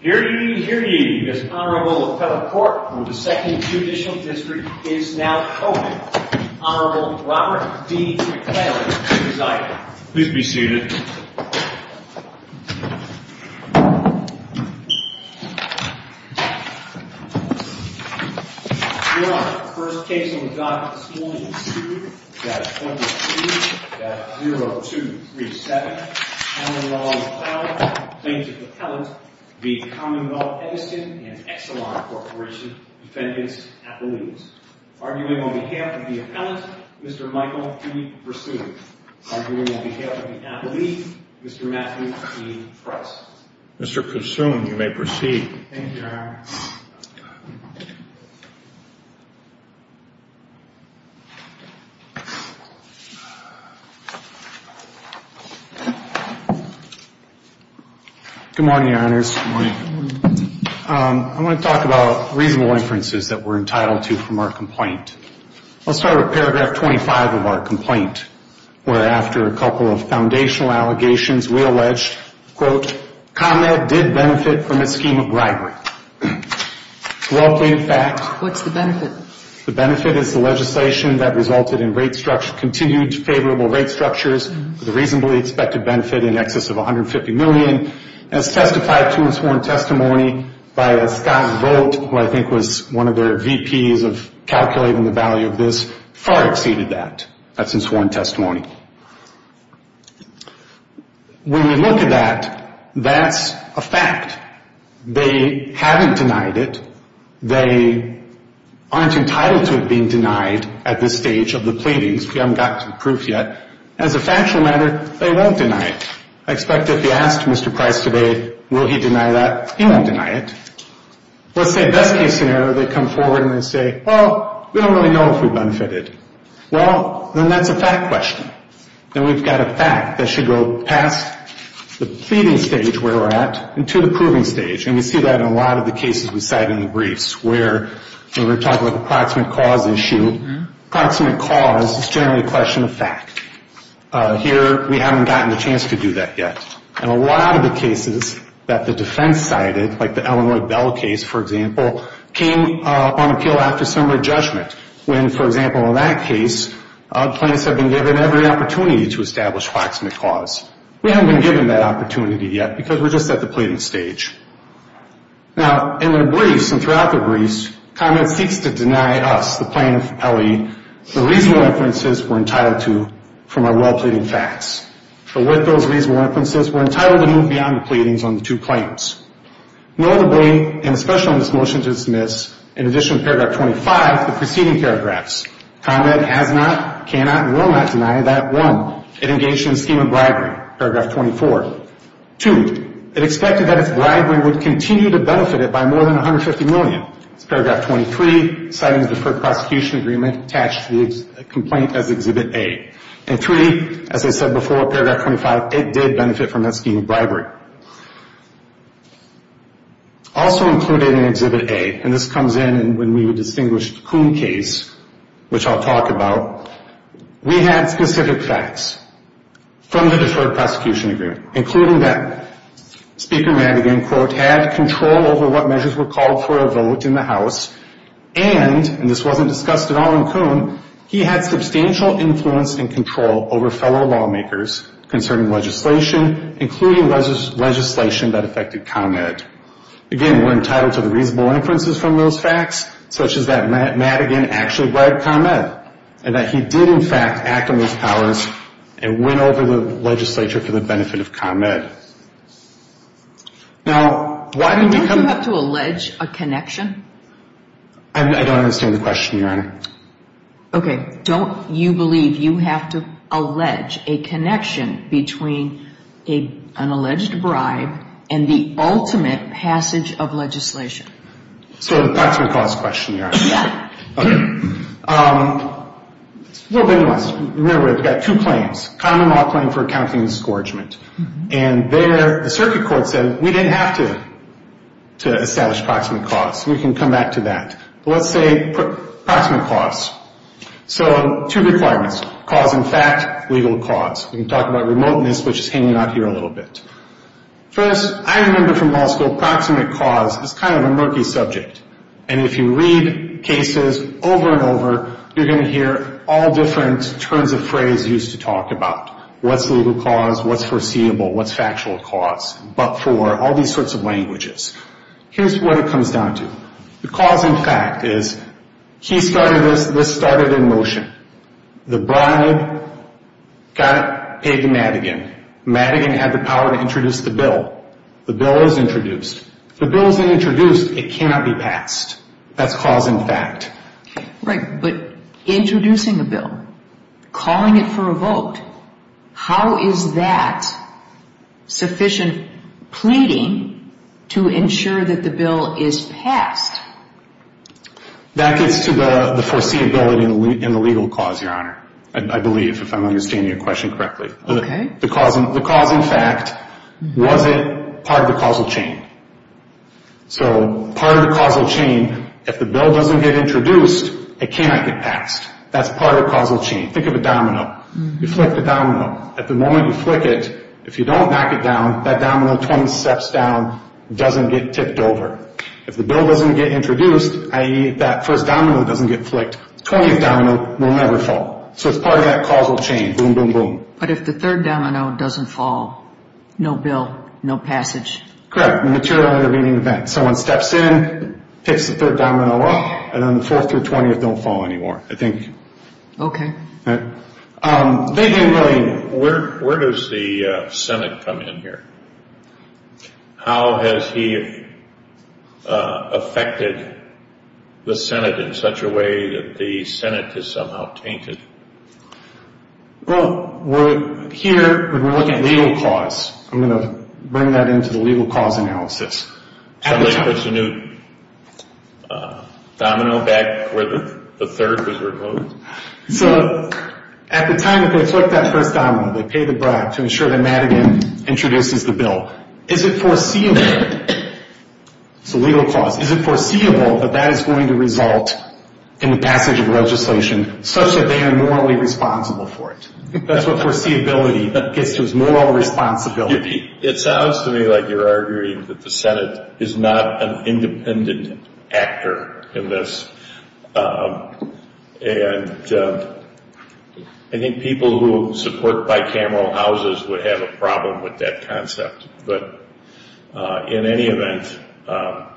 Here ye, here ye, this Honorable Appellate Court for the 2nd Judicial District is now open. Honorable Robert D. McClellan, please be seated. Please be seated. Your first case on the docket this morning is 2-22-0237. Honorable Appellate, plaintiff's appellant, v. Commonwealth Edison and Exelon Corporation Defendant's Appellees. Arguing on behalf of the appellant, Mr. Michael P. Kusum. Arguing on behalf of the appellee, Mr. Matthew P. Price. Mr. Kusum, you may proceed. Thank you, Your Honor. Good morning, Your Honors. Good morning. I want to talk about reasonable inferences that we're entitled to from our complaint. Let's start with paragraph 25 of our complaint, where after a couple of foundational allegations, we allege, quote, ComEd did benefit from a scheme of bribery. Well-pleaded fact. What's the benefit? The benefit is the legislation that resulted in continued favorable rate structures with a reasonably expected benefit in excess of $150 million. As testified to in sworn testimony by Scott Volt, who I think was one of their VPs of calculating the value of this, far exceeded that. That's in sworn testimony. When you look at that, that's a fact. They haven't denied it. They aren't entitled to it being denied at this stage of the pleadings. We haven't gotten to the proof yet. As a factual matter, they won't deny it. I expect if you asked Mr. Price today, will he deny that, he won't deny it. Let's say best case scenario, they come forward and they say, well, we don't really know if we benefited. Well, then that's a fact question. Then we've got a fact that should go past the pleading stage where we're at and to the proving stage. And we see that in a lot of the cases we cite in the briefs where we're talking about approximate cause issue. Approximate cause is generally a question of fact. Here we haven't gotten a chance to do that yet. In a lot of the cases that the defense cited, like the Illinois Bell case, for example, came on appeal after summary judgment when, for example, in that case, plaintiffs have been given every opportunity to establish approximate cause. We haven't been given that opportunity yet because we're just at the pleading stage. Now, in their briefs and throughout their briefs, ComEd seeks to deny us, the plaintiff, L.E., the reasonable inferences we're entitled to from our well-pleading facts. But with those reasonable inferences, we're entitled to move beyond the pleadings on the two claims. Notably, and especially on this motion to dismiss, in addition to paragraph 25, the preceding paragraphs, ComEd has not, cannot, and will not deny that, one, it engaged in a scheme of bribery, paragraph 24. Two, it expected that its bribery would continue to benefit it by more than $150 million. It's paragraph 23, citing a deferred prosecution agreement attached to the complaint as Exhibit A. And three, as I said before, paragraph 25, it did benefit from that scheme of bribery. Also included in Exhibit A, and this comes in when we would distinguish the Coon case, which I'll talk about, we had specific facts from the deferred prosecution agreement, including that Speaker Madigan, quote, had control over what measures were called for a vote in the House and, and this wasn't discussed at all in Coon, he had substantial influence and control over fellow lawmakers concerning legislation, including legislation that affected ComEd. Again, we're entitled to the reasonable inferences from those facts, such as that Madigan actually bribed ComEd and that he did, in fact, act on those powers and went over the legislature for the benefit of ComEd. Now, why did ComEd... Do you have to allege a connection? I don't understand the question, Your Honor. Okay. Don't you believe you have to allege a connection between an alleged bribe and the ultimate passage of legislation? So that's what caused the question, Your Honor. Yeah. Okay. It's a little bit of a mess. Remember, we've got two claims, common law claim for accounting and scourgement, and there the circuit court said we didn't have to establish proximate cause. We can come back to that. Let's say proximate cause. So two requirements, cause in fact, legal cause. We can talk about remoteness, which is hanging out here a little bit. First, I remember from law school, proximate cause is kind of a murky subject, and if you read cases over and over, you're going to hear all different terms of phrase used to talk about what's legal cause, what's foreseeable, what's factual cause, but for all these sorts of languages. Here's what it comes down to. The cause in fact is he started this, this started in motion. The bribe got paid to Madigan. Madigan had the power to introduce the bill. The bill is introduced. If the bill isn't introduced, it cannot be passed. That's cause in fact. Right, but introducing a bill, calling it for a vote, how is that sufficient pleading to ensure that the bill is passed? That gets to the foreseeability and the legal cause, Your Honor, I believe, if I'm understanding your question correctly. Okay. The cause in fact, was it part of the causal chain? So part of the causal chain, if the bill doesn't get introduced, it cannot get passed. That's part of the causal chain. Think of a domino. You flick the domino. At the moment you flick it, if you don't knock it down, that domino 20 steps down, doesn't get tipped over. If the bill doesn't get introduced, i.e. that first domino doesn't get flicked, the 20th domino will never fall. So it's part of that causal chain. Boom, boom, boom. But if the third domino doesn't fall, no bill, no passage. Correct. Material intervening event. Someone steps in, picks the third domino up, and then the 4th through 20th don't fall anymore. I think. Okay. David and William, where does the Senate come in here? How has he affected the Senate in such a way that the Senate is somehow tainted? Well, here we're looking at legal cause. I'm going to bring that into the legal cause analysis. Somebody puts a new domino back where the third was removed? So at the time that they flick that first domino, they pay the bribe to ensure that Madigan introduces the bill. Is it foreseeable, it's a legal cause, is it foreseeable that that is going to result in the passage of legislation such that they are morally responsible for it? That's what foreseeability gets to, is moral responsibility. It sounds to me like you're arguing that the Senate is not an independent actor in this. And I think people who support bicameral houses would have a problem with that concept. But in any event.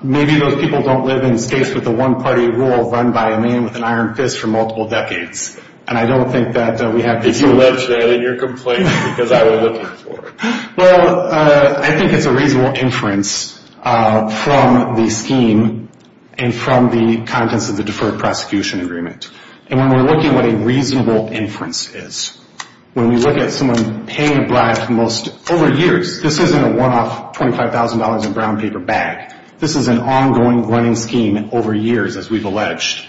Maybe those people don't live in states with a one-party rule run by a man with an iron fist for multiple decades. And I don't think that we have to do that. If you live there, then you're complaining because I would look for it. Well, I think it's a reasonable inference from the scheme and from the contents of the Deferred Prosecution Agreement. And when we're looking at what a reasonable inference is, when we look at someone paying a bribe for over years, this isn't a one-off $25,000 in brown paper bag. This is an ongoing running scheme over years, as we've alleged,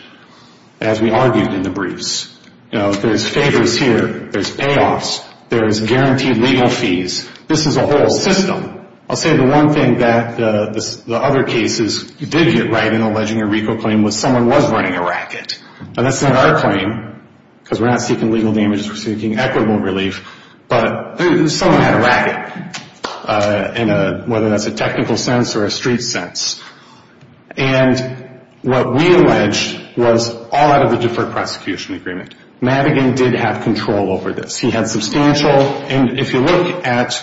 as we argued in the briefs. There's favors here, there's payoffs, there's guaranteed legal fees. This is a whole system. I'll say the one thing that the other cases did get right in alleging a RICO claim was someone was running a racket. Now, that's not our claim because we're not seeking legal damages. We're seeking equitable relief. But someone had a racket, whether that's a technical sense or a street sense. And what we allege was all out of the Deferred Prosecution Agreement. Madigan did have control over this. He had substantial, and if you look at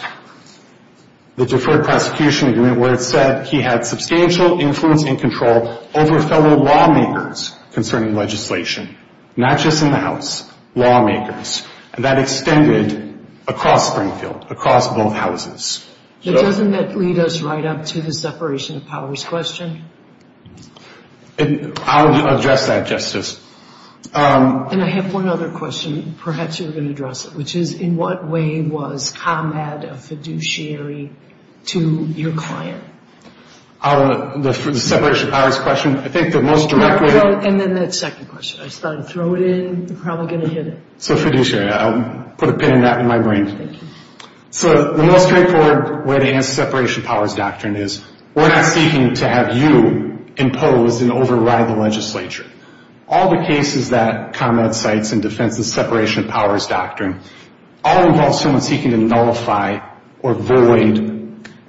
the Deferred Prosecution Agreement where it said that he had substantial influence and control over fellow lawmakers concerning legislation. Not just in the House, lawmakers. And that extended across Springfield, across both houses. But doesn't that lead us right up to the separation of powers question? I'll address that, Justice. And I have one other question. Perhaps you're going to address it, which is, in what way was ComEd a fiduciary to your client? The separation of powers question? I think the most direct way- And then that second question. I just thought I'd throw it in. You're probably going to hit it. So fiduciary. I'll put a pin in that in my brain. So the most straightforward way to answer separation of powers doctrine is, we're not seeking to have you imposed and override the legislature. All the cases that ComEd cites in defense of separation of powers doctrine, all involve someone seeking to nullify or void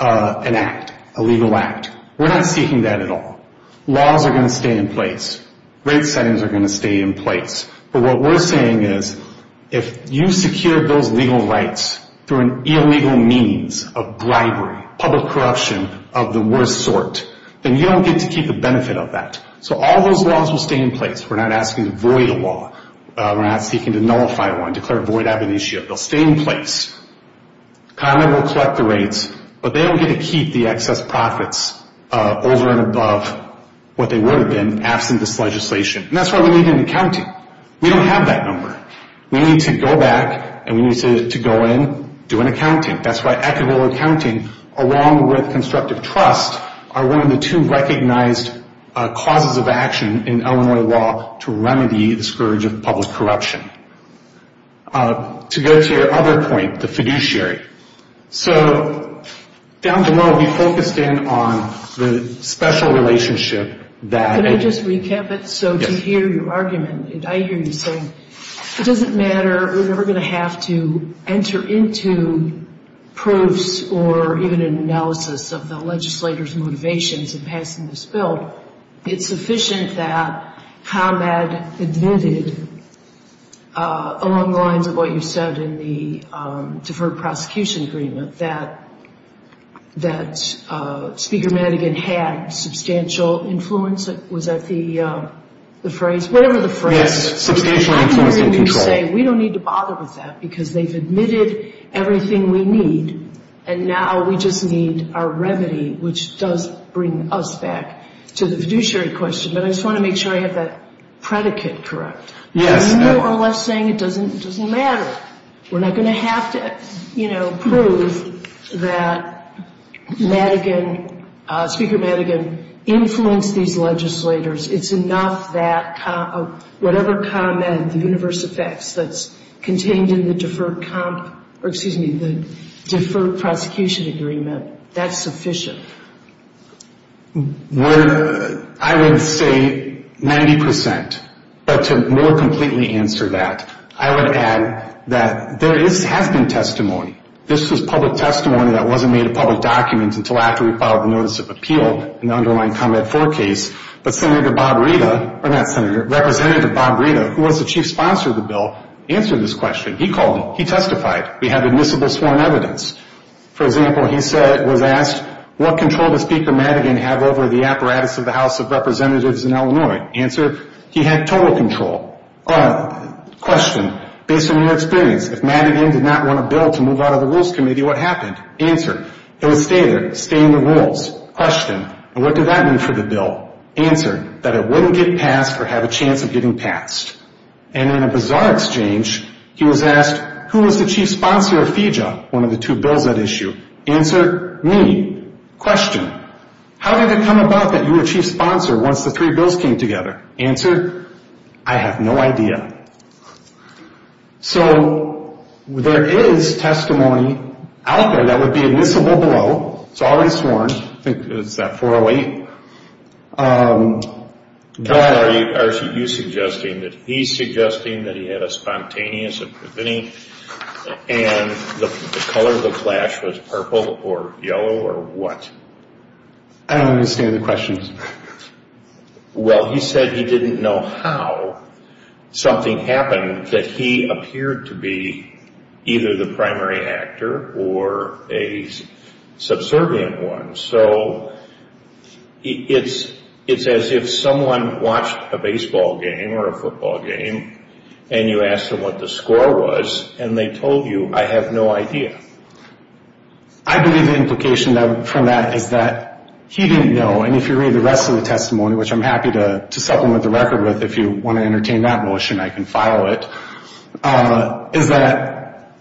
an act, a legal act. We're not seeking that at all. Laws are going to stay in place. Rate settings are going to stay in place. But what we're saying is, if you secure those legal rights through an illegal means of bribery, public corruption of the worst sort, then you don't get to keep the benefit of that. So all those laws will stay in place. We're not asking to void a law. We're not seeking to nullify one, declare void ab initio. They'll stay in place. ComEd will collect the rates, but they don't get to keep the excess profits over and above what they would have been, absent this legislation. And that's why we need an accounting. We don't have that number. We need to go back, and we need to go in, do an accounting. That's why equitable accounting, along with constructive trust, are one of the two recognized causes of action in Illinois law to remedy the scourge of public corruption. To go to your other point, the fiduciary. So down below, we focused in on the special relationship that... Can I just recap it? Yes. So to hear your argument, I hear you saying, it doesn't matter. We're never going to have to enter into proofs or even an analysis of the legislators' motivations in passing this bill. It's sufficient that ComEd admitted, along the lines of what you said in the deferred prosecution agreement, that Speaker Madigan had substantial influence. Was that the phrase? Whatever the phrase. Yes. Substantial influence and control. I'm hearing you say, we don't need to bother with that because they've admitted everything we need, and now we just need our remedy, which does bring us back to the fiduciary question. But I just want to make sure I have that predicate correct. Yes. You're more or less saying it doesn't matter. We're not going to have to prove that Speaker Madigan influenced these legislators. It's enough that whatever ComEd, the universe of facts that's contained in the deferred prosecution agreement, that's sufficient. I would say 90%. But to more completely answer that, I would add that there has been testimony. This was public testimony that wasn't made a public document until after we filed the notice of appeal in the underlying Combat 4 case. But Representative Bob Rita, who was the chief sponsor of the bill, answered this question. He called him. He testified. We have admissible sworn evidence. For example, he was asked, what control does Speaker Madigan have over the apparatus of the House of Representatives in Illinois? Answer, he had total control. Question, based on your experience, if Madigan did not want a bill to move out of the Rules Committee, what happened? Answer, it would stay there, stay in the rules. Question, and what did that mean for the bill? Answer, that it wouldn't get passed or have a chance of getting passed. And in a bizarre exchange, he was asked, who was the chief sponsor of FEJA, one of the two bills at issue? Answer, me. Question, how did it come about that you were chief sponsor once the three bills came together? Answer, I have no idea. So there is testimony out there that would be admissible below. It's already sworn. I think it's that 408. Question, are you suggesting that he's suggesting that he had a spontaneous, and the color of the flash was purple or yellow or what? I don't understand the question. Well, he said he didn't know how something happened, that he appeared to be either the primary actor or a subservient one. So it's as if someone watched a baseball game or a football game, and you asked them what the score was, and they told you, I have no idea. I believe the implication from that is that he didn't know, and if you read the rest of the testimony, which I'm happy to supplement the record with, if you want to entertain that notion, I can follow it, is that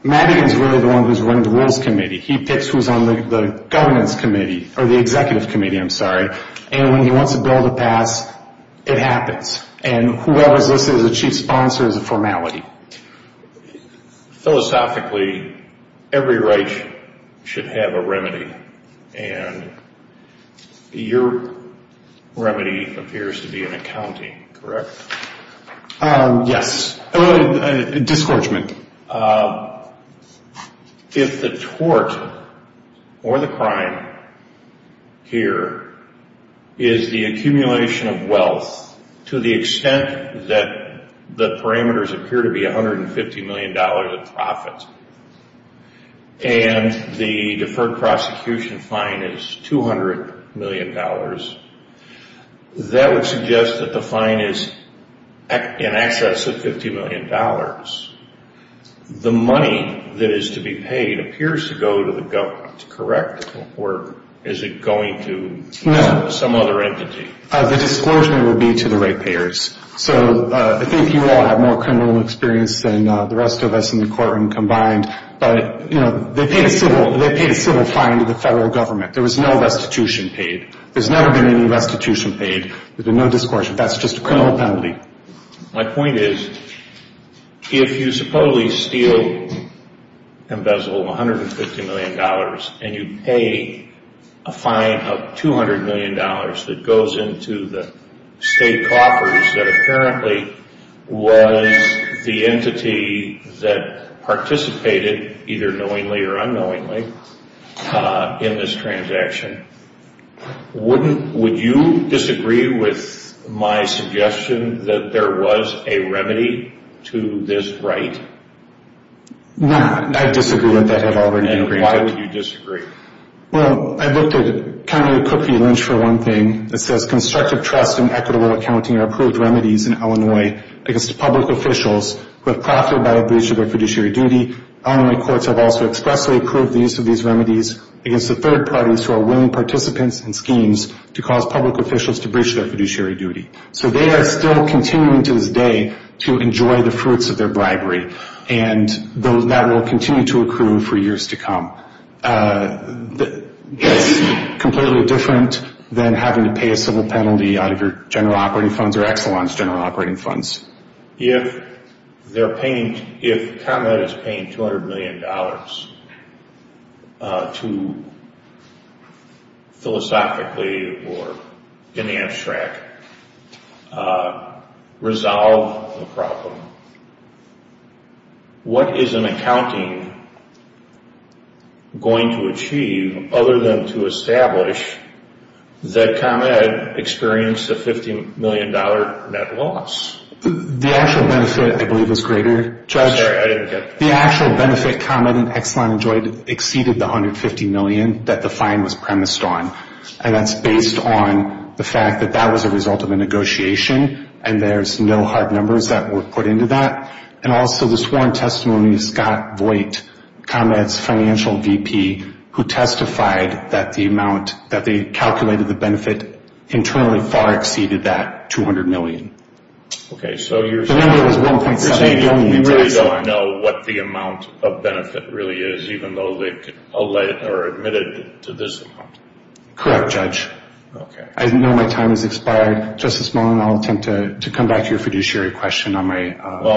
Madigan is really the one who's running the rules committee. He picks who's on the governance committee, or the executive committee, I'm sorry, and when he wants a bill to pass, it happens, and whoever's listed as a chief sponsor is a formality. Philosophically, every right should have a remedy, and your remedy appears to be an accounting, correct? Yes. Discouragement. If the tort or the crime here is the accumulation of wealth to the extent that the parameters appear to be $150 million of profit, and the deferred prosecution fine is $200 million, that would suggest that the fine is in excess of $50 million. The money that is to be paid appears to go to the government, correct? Or is it going to some other entity? The discouragement would be to the rate payers. So I think you all have more criminal experience than the rest of us in the courtroom combined, but they paid a civil fine to the federal government. There was no restitution paid. There's never been any restitution paid. There's been no discouragement. That's just a criminal penalty. My point is, if you supposedly steal, embezzle $150 million, and you pay a fine of $200 million that goes into the state coffers that apparently was the entity that participated, either knowingly or unknowingly, in this transaction, would you disagree with my suggestion that there was a remedy to this right? No, I disagree with that at all. And why would you disagree? Well, I looked at County Cook v. Lynch for one thing. It says constructive trust and equitable accounting are approved remedies in Illinois against public officials who have profited by a breach of their fiduciary duty. Illinois courts have also expressly approved the use of these remedies against the third parties who are willing participants in schemes to cause public officials to breach their fiduciary duty. So they are still continuing to this day to enjoy the fruits of their bribery, and that will continue to accrue for years to come. Is this completely different than having to pay a civil penalty out of your General Operating Funds or Exelon's General Operating Funds? If Conrad is paying $200 million to philosophically or in the abstract, resolve the problem, what is an accounting going to achieve other than to establish that Conrad experienced a $50 million net loss? The actual benefit, I believe, was greater. I'm sorry, I didn't get that. The actual benefit Conrad and Exelon enjoyed exceeded the $150 million that the fine was premised on, and that's based on the fact that that was a result of a negotiation and there's no hard numbers that were put into that. And also the sworn testimony of Scott Voigt, Conrad's financial VP, who testified that the amount that they calculated the benefit internally far exceeded that $200 million. Okay, so you're saying you don't know what the amount of benefit really is, even though they're admitted to this amount? Correct, Judge. Okay. I know my time has expired. Just a moment. I'll attempt to come back to your fiduciary question on my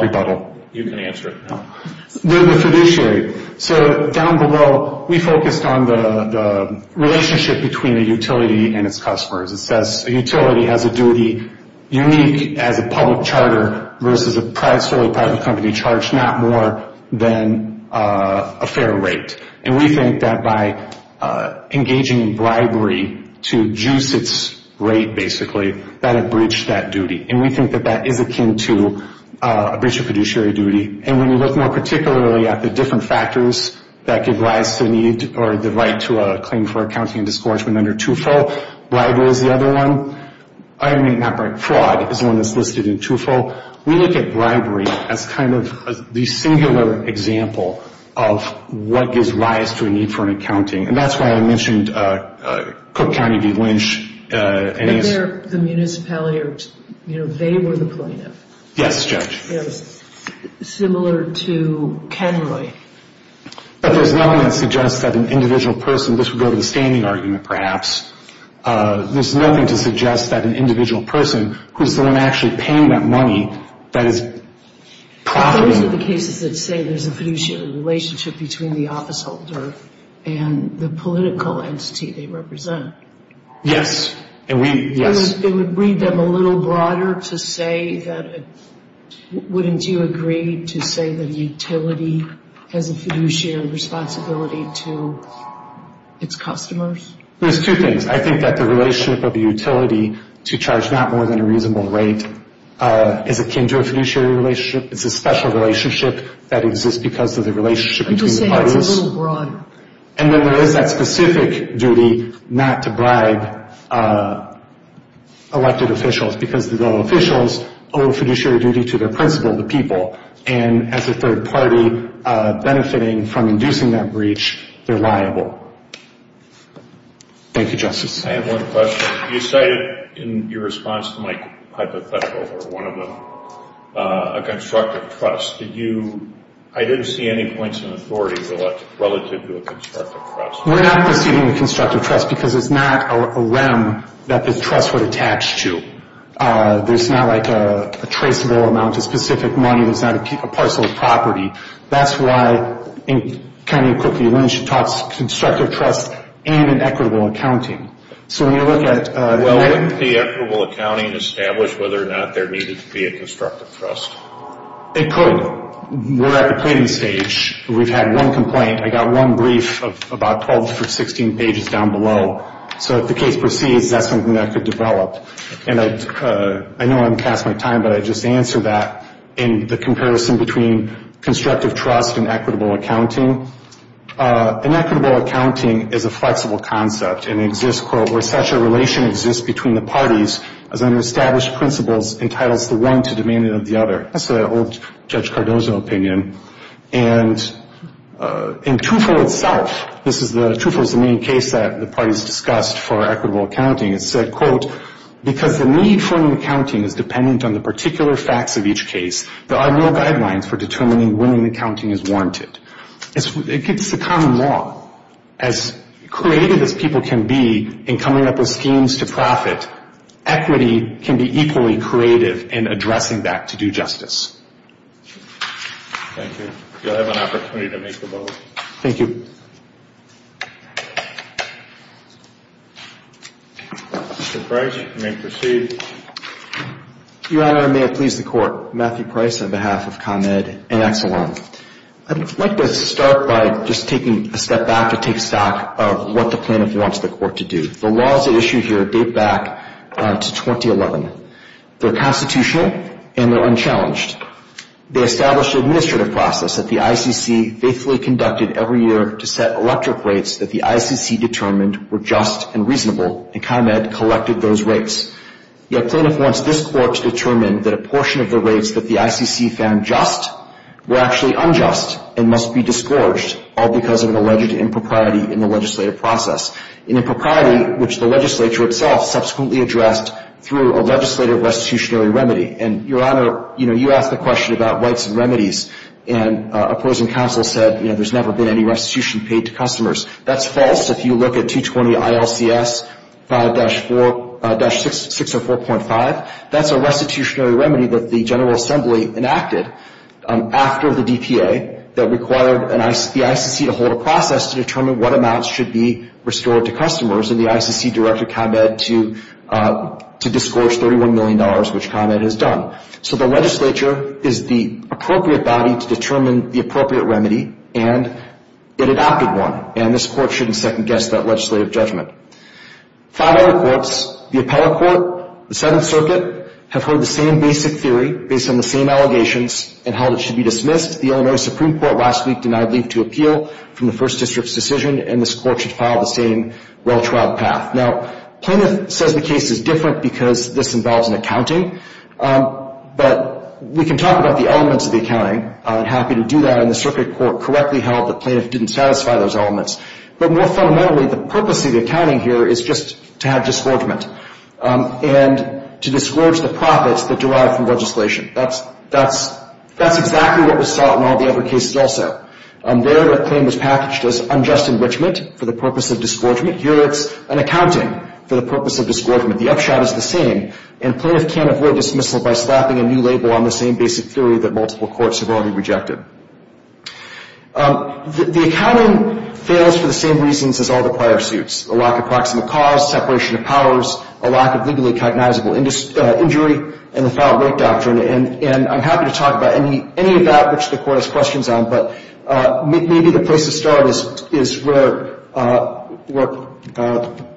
rebuttal. Well, you can answer it. The fiduciary. So down below, we focused on the relationship between a utility and its customers. It says a utility has a duty unique as a public charter versus a solely private company charged not more than a fair rate. And we think that by engaging in bribery to juice its rate, basically, that it breached that duty. And we think that that is akin to a breach of fiduciary duty. And when you look more particularly at the different factors that give rise to the need or the right to a claim for accounting and discouragement under TUFO, bribery is the other one. I mean, not bribery, fraud is one that's listed in TUFO. We look at bribery as kind of the singular example of what gives rise to a need for an accounting. And that's why I mentioned Cook County v. Lynch. The municipality or, you know, they were the plaintiff. Yes, Judge. Similar to Kenroy. But there's nothing that suggests that an individual person, this would go to the standing argument perhaps, there's nothing to suggest that an individual person who's the one actually paying that money, that is profiting. Those are the cases that say there's a fiduciary relationship between the officeholder and the political entity they represent. Yes. It would read them a little broader to say that, wouldn't you agree to say that a utility has a fiduciary responsibility to its customers? There's two things. I think that the relationship of a utility to charge not more than a reasonable rate is akin to a fiduciary relationship. It's a special relationship that exists because of the relationship between parties. I'm just saying it's a little broader. And then there is that specific duty not to bribe elected officials because the officials owe a fiduciary duty to their principal, the people, and as a third party benefiting from inducing that breach, they're liable. Thank you, Justice. I have one question. You cited in your response to my hypothetical, or one of them, a constructive trust. Did you, I didn't see any points in authority relative to a constructive trust. We're not receiving a constructive trust because it's not a REM that the trust would attach to. There's not like a traceable amount of specific money. There's not a parcel of property. That's why, kind of quickly, you mentioned constructive trust and an equitable accounting. So when you look at- Well, wouldn't the equitable accounting establish whether or not there needed to be a constructive trust? It could. We're at the planning stage. We've had one complaint. I got one brief of about 12 or 16 pages down below. So if the case proceeds, that's something that could develop. And I know I'm past my time, but I'd just answer that in the comparison between constructive trust and equitable accounting. Inequitable accounting is a flexible concept and exists, quote, where such a relation exists between the parties as under established principles entitles the one to demand it of the other. That's the old Judge Cardozo opinion. And in TUFO itself, this is the- TUFO is the main case that the parties discussed for equitable accounting. It said, quote, because the need for an accounting is dependent on the particular facts of each case, there are no guidelines for determining when an accounting is warranted. It's a common law. As creative as people can be in coming up with schemes to profit, equity can be equally creative in addressing that to do justice. Thank you. You'll have an opportunity to make the vote. Thank you. Mr. Price, you may proceed. Your Honor, may it please the Court. Matthew Price on behalf of Con Ed and Exelon. I'd like to start by just taking a step back to take stock of what the plaintiff wants the Court to do. The laws that are issued here date back to 2011. They're constitutional and they're unchallenged. They established an administrative process that the ICC faithfully conducted every year to set electric rates that the ICC determined were just and reasonable, and Con Ed collected those rates. Yet plaintiff wants this Court to determine that a portion of the rates that the ICC found just were actually unjust and must be disgorged, all because of an alleged impropriety in the legislative process. An impropriety which the legislature itself subsequently addressed through a legislative restitutionary remedy. And, Your Honor, you know, you asked the question about rights and remedies, and opposing counsel said, you know, there's never been any restitution paid to customers. That's false. If you look at 220 ILCS 5-4-604.5, that's a restitutionary remedy that the General Assembly enacted after the DPA that required the ICC to hold a process to determine what amounts should be restored to customers, and the ICC directed Con Ed to disgorge $31 million, which Con Ed has done. So the legislature is the appropriate body to determine the appropriate remedy, and it adopted one, and this Court shouldn't second-guess that legislative judgment. Five other courts, the Appellate Court, the Seventh Circuit, have heard the same basic theory, based on the same allegations, and held it should be dismissed. The Illinois Supreme Court last week denied leave to appeal from the First District's decision, and this Court should follow the same well-trod path. Now, Plaintiff says the case is different because this involves an accounting, but we can talk about the elements of the accounting. I'm happy to do that, and the Circuit Court correctly held that Plaintiff didn't satisfy those elements. But more fundamentally, the purpose of the accounting here is just to have disgorgement, and to disgorge the profits that derive from legislation. That's exactly what was sought in all the other cases also. There, the claim was packaged as unjust enrichment for the purpose of disgorgement. Here, it's an accounting for the purpose of disgorgement. The upshot is the same, and Plaintiff can't avoid dismissal by slapping a new label on the same basic theory that multiple courts have already rejected. The accounting fails for the same reasons as all the prior suits, a lack of proximate cause, separation of powers, a lack of legally cognizable injury, and the foul rape doctrine, and I'm happy to talk about any of that which the Court has questions on, but maybe the place to start is where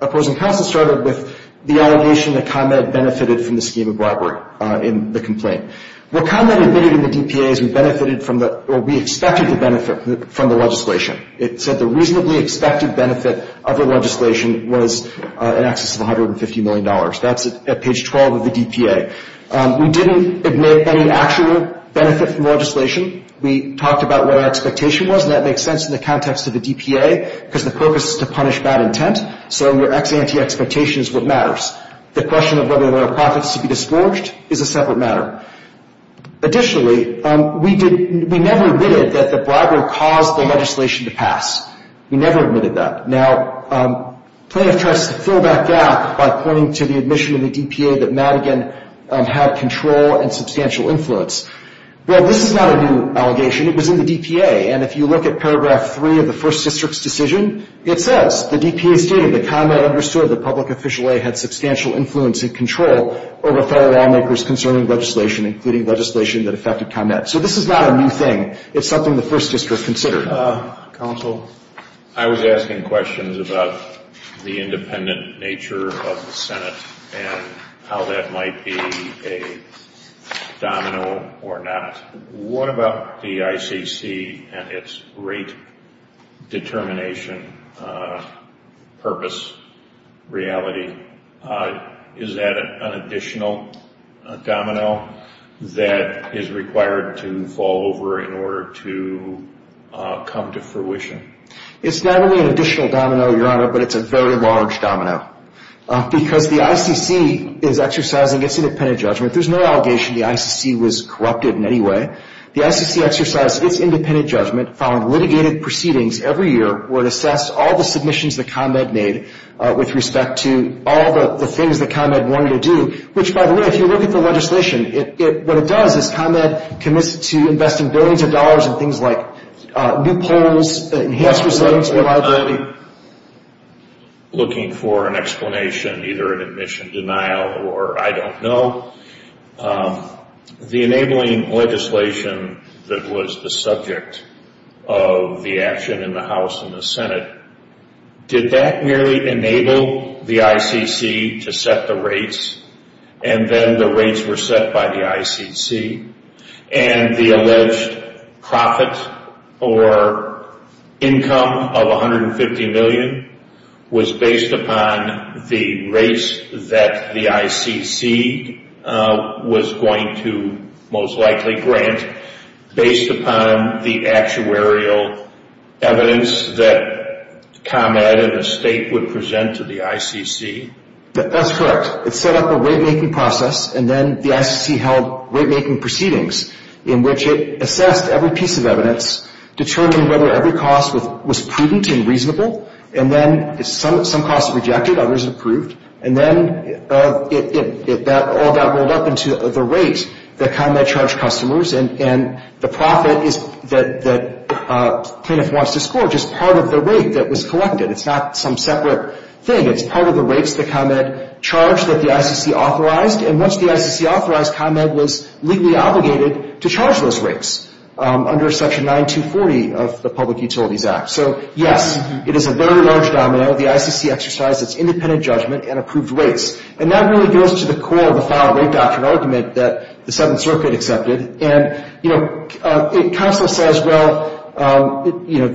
opposing counsel started with the allegation that Conrad benefited from the scheme of robbery in the complaint. What Conrad admitted in the DPA is we benefited from the, or we expected the benefit from the legislation. It said the reasonably expected benefit of the legislation was in excess of $150 million. That's at page 12 of the DPA. We didn't admit any actual benefit from the legislation. We talked about what our expectation was, and that makes sense in the context of the DPA because the purpose is to punish bad intent, so your ex ante expectation is what matters. The question of whether there are profits to be disgorged is a separate matter. Additionally, we never admitted that the bribery caused the legislation to pass. We never admitted that. Now, Plaintiff tries to fill that gap by pointing to the admission in the DPA that Madigan had control and substantial influence. Well, this is not a new allegation. It was in the DPA, and if you look at paragraph 3 of the First District's decision, it says the DPA stated that Conrad understood that Public Official A had substantial influence and control over federal lawmakers concerning legislation, including legislation that affected Conrad. So this is not a new thing. It's something the First District considered. Counsel? I was asking questions about the independent nature of the Senate and how that might be a domino or not. What about the ICC and its rate determination purpose reality? Is that an additional domino that is required to fall over in order to come to fruition? It's not only an additional domino, Your Honor, but it's a very large domino because the ICC is exercising its independent judgment. There's no allegation the ICC was corrupted in any way. The ICC exercised its independent judgment following litigated proceedings every year where it assessed all the submissions that Conrad made with respect to all the things that Conrad wanted to do, which, by the way, if you look at the legislation, what it does is Conrad commits to investing billions of dollars in things like new polls, enhanced resilience, reliability. I'm not looking for an explanation, either an admission denial or I don't know. The enabling legislation that was the subject of the action in the House and the Senate, did that really enable the ICC to set the rates and then the rates were set by the ICC? And the alleged profit or income of $150 million was based upon the rates that the ICC was going to most likely grant, based upon the actuarial evidence that ComEd and the state would present to the ICC? That's correct. It set up a rate-making process, and then the ICC held rate-making proceedings in which it assessed every piece of evidence, determined whether every cost was prudent and reasonable, and then some costs rejected, others approved, and then all that rolled up into the rate that ComEd charged customers, and the profit that the plaintiff wants to score is just part of the rate that was collected. It's not some separate thing. It's part of the rates that ComEd charged that the ICC authorized, and once the ICC authorized, ComEd was legally obligated to charge those rates under Section 9240 of the Public Utilities Act. So, yes, it is a very large domino. The ICC exercised its independent judgment and approved rates, and that really goes to the core of the filed rate doctrine argument that the Seventh Circuit accepted. And, you know, counsel says, well, you know,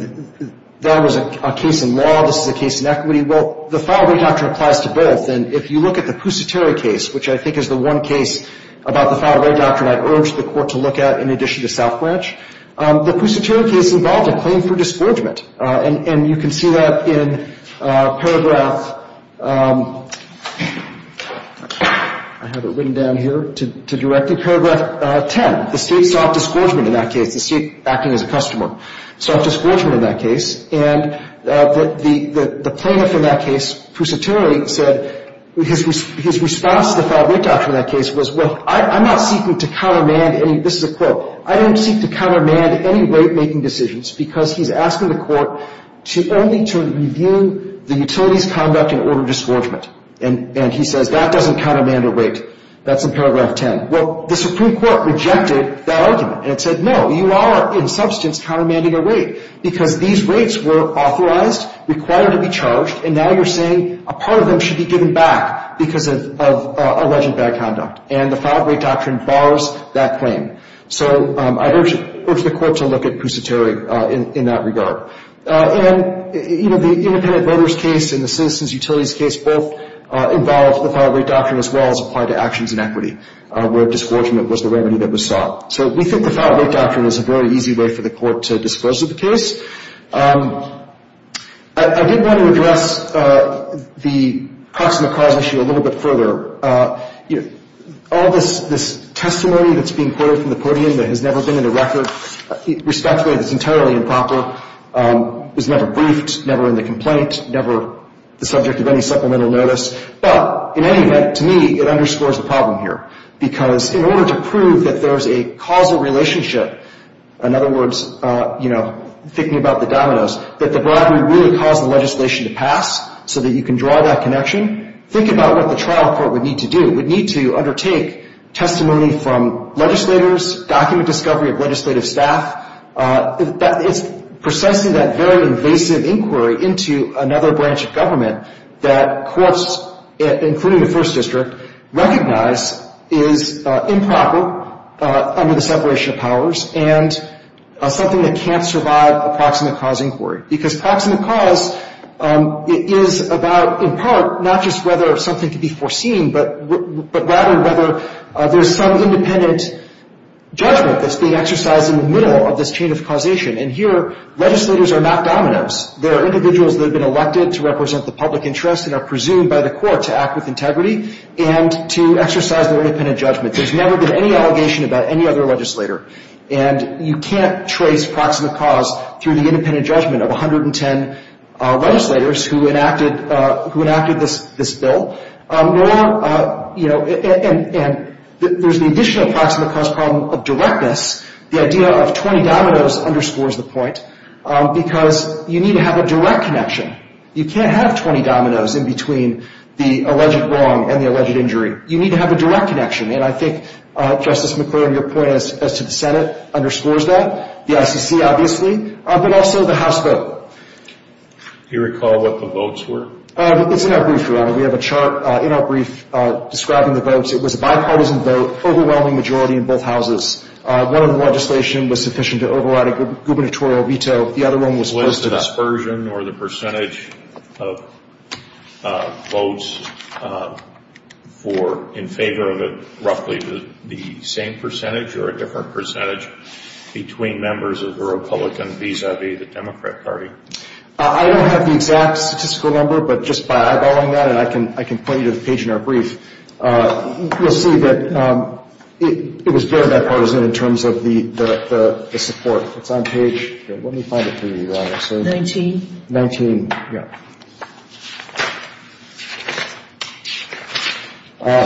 that was a case in law. This is a case in equity. Well, the filed rate doctrine applies to both, and if you look at the Pusiteri case, which I think is the one case about the filed rate doctrine I'd urge the Court to look at in addition to South Branch, the Pusiteri case involved a claim for disgorgement, and you can see that in paragraph ‑‑ I have it written down here to direct you, paragraph 10. The State sought disgorgement in that case. The State, acting as a customer, sought disgorgement in that case, and the plaintiff in that case, Pusiteri, said his response to the filed rate doctrine in that case was, well, I'm not seeking to countermand any, this is a quote, I don't seek to countermand any rate‑making decisions because he's asking the Court only to review the utility's conduct in order to disgorgement. And he says that doesn't countermand a rate. That's in paragraph 10. Well, the Supreme Court rejected that argument and said, no, you are, in substance, countermanding a rate because these rates were authorized, required to be charged, and now you're saying a part of them should be given back because of alleged bad conduct. And the filed rate doctrine bars that claim. So I'd urge the Court to look at Pusiteri in that regard. And, you know, the independent voters case and the citizens utilities case both involve the filed rate doctrine as well as apply to actions in equity where disgorgement was the remedy that was sought. So we think the filed rate doctrine is a very easy way for the Court to disclose the case. I did want to address the proximate cause issue a little bit further. All this testimony that's being quoted from the podium that has never been in a record, respectfully, that's entirely improper, is never briefed, never in the complaint, never the subject of any supplemental notice. But in any event, to me, it underscores the problem here. Because in order to prove that there's a causal relationship, in other words, you know, thinking about the dominoes, that the bribery really caused the legislation to pass so that you can draw that connection, think about what the trial court would need to do. It would need to undertake testimony from legislators, document discovery of legislative staff. It's precisely that very invasive inquiry into another branch of government that courts, including the First District, recognize is improper under the separation of powers and something that can't survive a proximate cause inquiry. Because proximate cause is about, in part, not just whether something can be foreseen, but rather whether there's some independent judgment that's being exercised in the middle of this chain of causation. And here legislators are not dominoes. There are individuals that have been elected to represent the public interest and are presumed by the court to act with integrity and to exercise their independent judgment. There's never been any allegation about any other legislator. And you can't trace proximate cause through the independent judgment of 110 legislators who enacted this bill. And there's the additional proximate cause problem of directness. The idea of 20 dominoes underscores the point because you need to have a direct connection. You can't have 20 dominoes in between the alleged wrong and the alleged injury. You need to have a direct connection. And I think, Justice McClure, your point as to the Senate underscores that, the ICC obviously, but also the House vote. Do you recall what the votes were? It's in our brief, Your Honor. We have a chart in our brief describing the votes. It was a bipartisan vote, overwhelming majority in both houses. One of the legislation was sufficient to override a gubernatorial veto. The other one was posted up. Was the dispersion or the percentage of votes in favor of it roughly the same percentage or a different percentage between members of the Republican vis-a-vis the Democrat party? I don't have the exact statistical number, but just by eyeballing that, and I can point you to the page in our brief, you'll see that it was very bipartisan in terms of the support. It's on page, let me find it for you, Your Honor. Nineteen. Nineteen, yeah.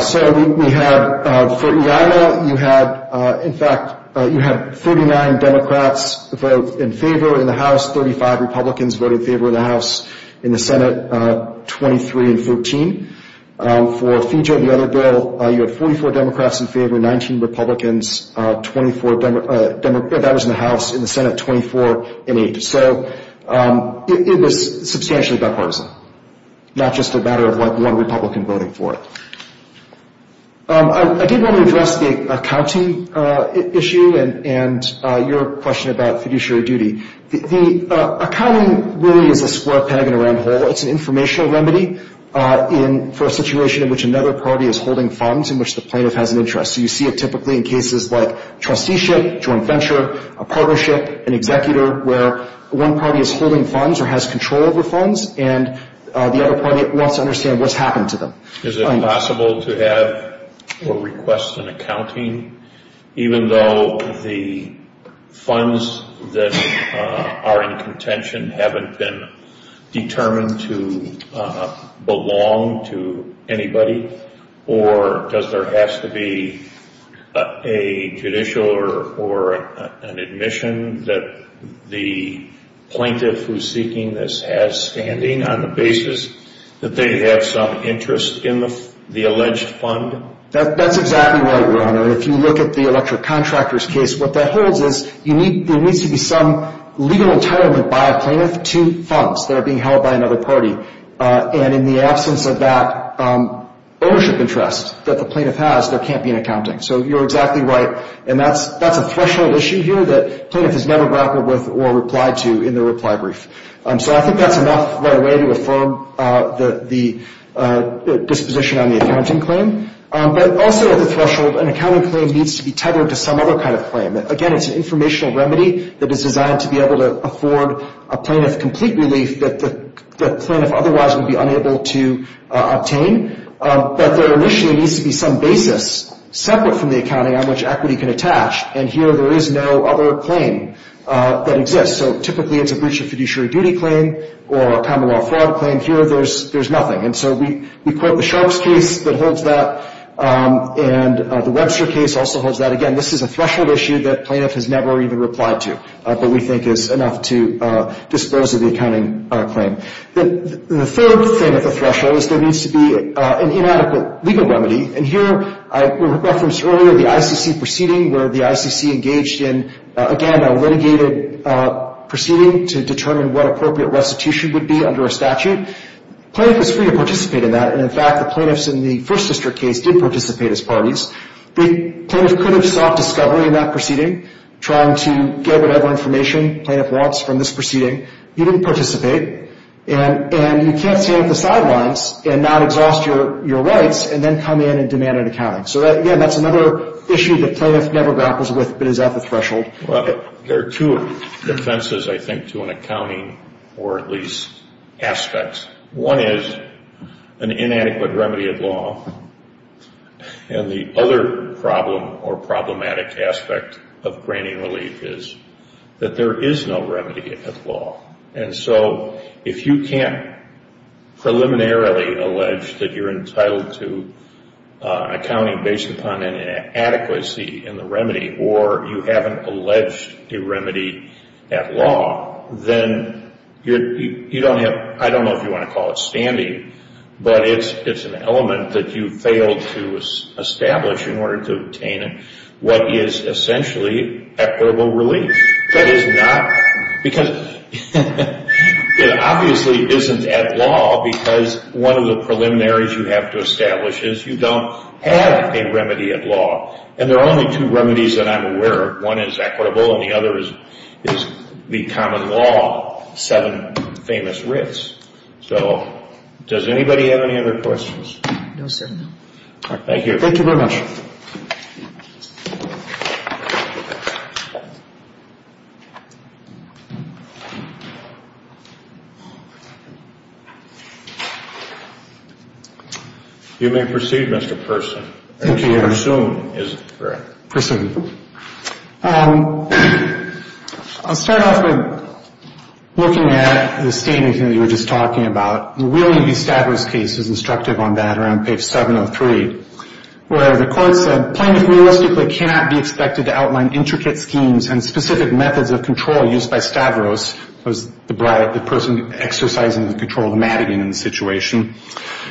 So we have, for Iowa, you had, in fact, you had 39 Democrats vote in favor in the House, 35 Republicans voted in favor of the House in the Senate, 23 in 14. For FIJA, the other bill, you had 44 Democrats in favor, 19 Republicans, 24 Democrats in the House, in the Senate, 24 in eight. So it was substantially bipartisan, not just a matter of one Republican voting for it. I did want to address the accounting issue and your question about fiduciary duty. The accounting really is a square peg in a round hole. It's an informational remedy for a situation in which another party is holding funds in which the plaintiff has an interest. So you see it typically in cases like trusteeship, joint venture, a partnership, an executor, where one party is holding funds or has control over funds, and the other party wants to understand what's happened to them. Is it possible to have a request in accounting, even though the funds that are in contention haven't been determined to belong to anybody, or does there have to be a judicial or an admission that the plaintiff who's seeking this has standing on the basis that they have some interest in the alleged fund? That's exactly right, Your Honor. If you look at the electric contractor's case, what that holds is there needs to be some legal entitlement by a plaintiff to funds that are being held by another party. And in the absence of that ownership interest that the plaintiff has, there can't be an accounting. So you're exactly right. And that's a threshold issue here that plaintiff has never grappled with or replied to in their reply brief. So I think that's enough right away to affirm the disposition on the accounting claim. But also at the threshold, an accounting claim needs to be tethered to some other kind of claim. Again, it's an informational remedy that is designed to be able to afford a plaintiff complete relief that the plaintiff otherwise would be unable to obtain. But there initially needs to be some basis separate from the accounting on which equity can attach. And here there is no other claim that exists. So typically it's a breach of fiduciary duty claim or a common law fraud claim. Here there's nothing. And so we quote the Sharpe's case that holds that, and the Webster case also holds that. Again, this is a threshold issue that plaintiff has never even replied to, but we think is enough to dispose of the accounting claim. The third thing at the threshold is there needs to be an inadequate legal remedy. And here I referenced earlier the ICC proceeding where the ICC engaged in, again, a litigated proceeding to determine what appropriate restitution would be under a statute. Plaintiff is free to participate in that. And, in fact, the plaintiffs in the first district case did participate as parties. The plaintiff could have sought discovery in that proceeding, trying to get whatever information the plaintiff wants from this proceeding. He didn't participate. And you can't stand at the sidelines and not exhaust your rights and then come in and demand an accounting. So, again, that's another issue that plaintiff never grapples with but is at the threshold. Well, there are two defenses, I think, to an accounting or at least aspects. One is an inadequate remedy of law. And the other problem or problematic aspect of granting relief is that there is no remedy of law. And so if you can't preliminarily allege that you're entitled to an accounting based upon an inadequacy in the remedy or you haven't alleged a remedy at law, then you don't have – I don't know if you want to call it standing, but it's an element that you failed to establish in order to obtain what is essentially equitable relief. That is not – because it obviously isn't at law because one of the preliminaries you have to establish is you don't have a remedy at law. And there are only two remedies that I'm aware of. One is equitable and the other is the common law, seven famous writs. So does anybody have any other questions? No, sir. Thank you. Thank you very much. You may proceed, Mr. Person. Thank you, Your Honor. Pursuant, is it correct? Pursuant. I'll start off with looking at the statement that you were just talking about. Will you establish cases instructive on that around page 703 where the court said, plaintiff realistically cannot be expected to outline intricate schemes and specific measures or methods of control used by Stavros, the person exercising the control of the Madigan in the situation,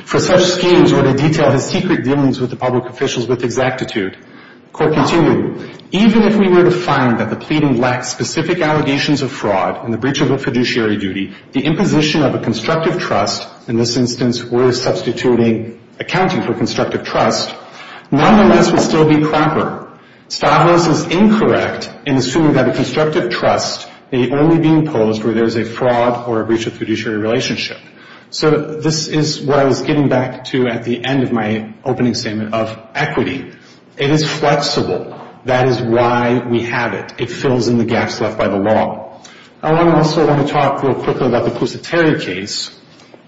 for such schemes or to detail the secret dealings with the public officials with exactitude. Court continued, even if we were to find that the pleading lacked specific allegations of fraud and the breach of a fiduciary duty, the imposition of a constructive trust, in this instance we're substituting accounting for constructive trust, nonetheless would still be proper. Stavros is incorrect in assuming that a constructive trust may only be imposed where there's a fraud or a breach of fiduciary relationship. So this is what I was getting back to at the end of my opening statement of equity. It is flexible. That is why we have it. It fills in the gaps left by the law. I also want to talk real quickly about the Pusateri case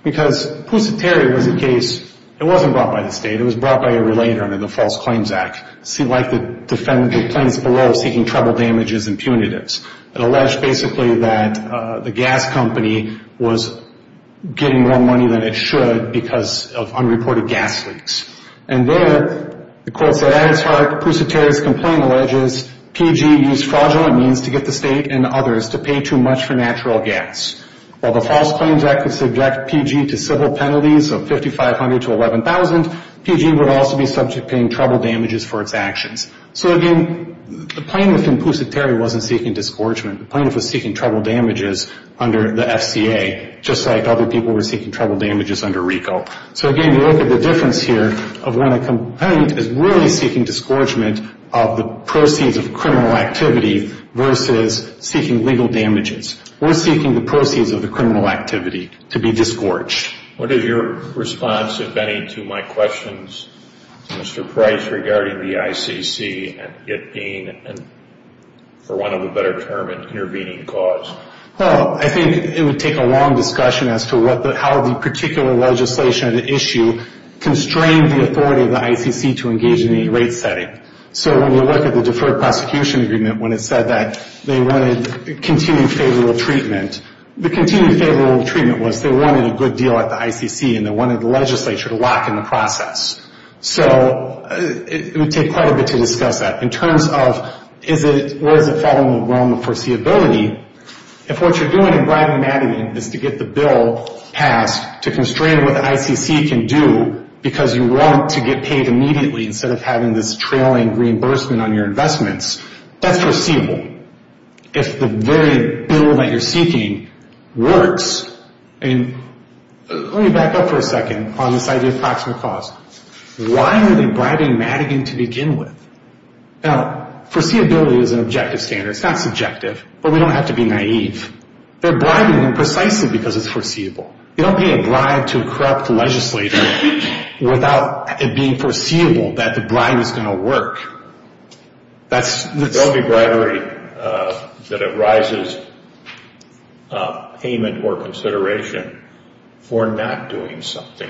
because Pusateri was a case, it wasn't brought by the state, it was brought by a relater under the False Claims Act. It seemed like the plaintiffs below seeking trouble damages and punitives. It alleged basically that the gas company was getting more money than it should because of unreported gas leaks. And there, the court said, at its heart, Pusateri's complaint alleges PG used fraudulent means to get the state and others to pay too much for natural gas. While the False Claims Act would subject PG to civil penalties of $5,500 to $11,000, PG would also be subject to paying trouble damages for its actions. So, again, the plaintiff in Pusateri wasn't seeking disgorgement. The plaintiff was seeking trouble damages under the FCA, just like other people were seeking trouble damages under RICO. So, again, you look at the difference here of when a complainant is really seeking disgorgement of the proceeds of criminal activity versus seeking legal damages or seeking the proceeds of the criminal activity to be disgorged. What is your response, if any, to my questions, Mr. Price, regarding the ICC and it being, for want of a better term, an intervening cause? Well, I think it would take a long discussion as to how the particular legislation at issue constrained the authority of the ICC to engage in any rate setting. So when you look at the Deferred Prosecution Agreement, when it said that they wanted continued favorable treatment, the continued favorable treatment was they wanted a good deal at the ICC and they wanted the legislature to lock in the process. So it would take quite a bit to discuss that. In terms of where does it fall in the realm of foreseeability, if what you're doing in Bradman-Madigan is to get the bill passed to constrain what the ICC can do because you want to get paid immediately instead of having this trailing reimbursement on your investments, that's foreseeable. If the very bill that you're seeking works, and let me back up for a second on this idea of proximate cause. Why are they bribing Madigan to begin with? Now, foreseeability is an objective standard. It's not subjective, but we don't have to be naive. They're bribing them precisely because it's foreseeable. You don't pay a bribe to a corrupt legislator without it being foreseeable that the bribe is going to work. Don't be bribery that it rises payment or consideration for not doing something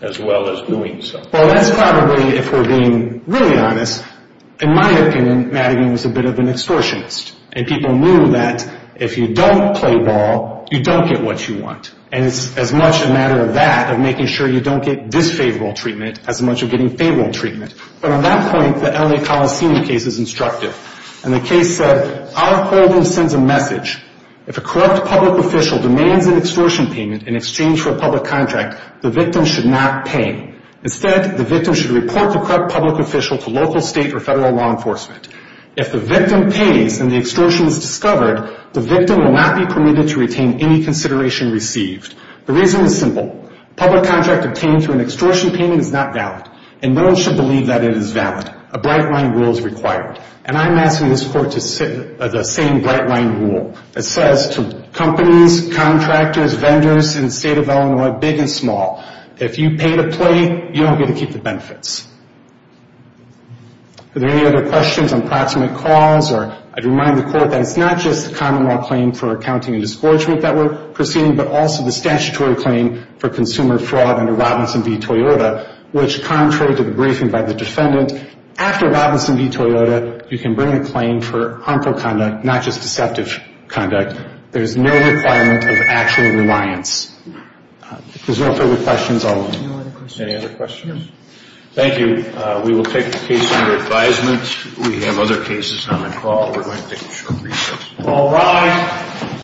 as well as doing something. Well, that's probably, if we're being really honest, in my opinion, Madigan was a bit of an extortionist. And people knew that if you don't play ball, you don't get what you want. And it's as much a matter of that, of making sure you don't get disfavorable treatment, as much of getting favorable treatment. But on that point, the L.A. Coliseum case is instructive. And the case said, our holdings sends a message. If a corrupt public official demands an extortion payment in exchange for a public contract, the victim should not pay. Instead, the victim should report the corrupt public official to local, state, or federal law enforcement. If the victim pays and the extortion is discovered, the victim will not be permitted to retain any consideration received. The reason is simple. A public contract obtained through an extortion payment is not valid, and no one should believe that it is valid. A bright line rule is required. And I'm asking this court to sit the same bright line rule that says to companies, contractors, vendors in the state of Illinois, big and small, if you pay to play, you don't get to keep the benefits. Are there any other questions on proximate cause? Or I'd remind the court that it's not just the common law claim for accounting and disgorgement that we're proceeding, but also the statutory claim for consumer fraud under Robinson v. Toyota, which contrary to the briefing by the defendant, after Robinson v. Toyota, you can bring a claim for harmful conduct, not just deceptive conduct. There's no requirement of actual reliance. If there's no further questions, I'll move. Any other questions? Thank you. We will take the case under advisement. We have other cases on the call. We're going to take a short recess. All rise.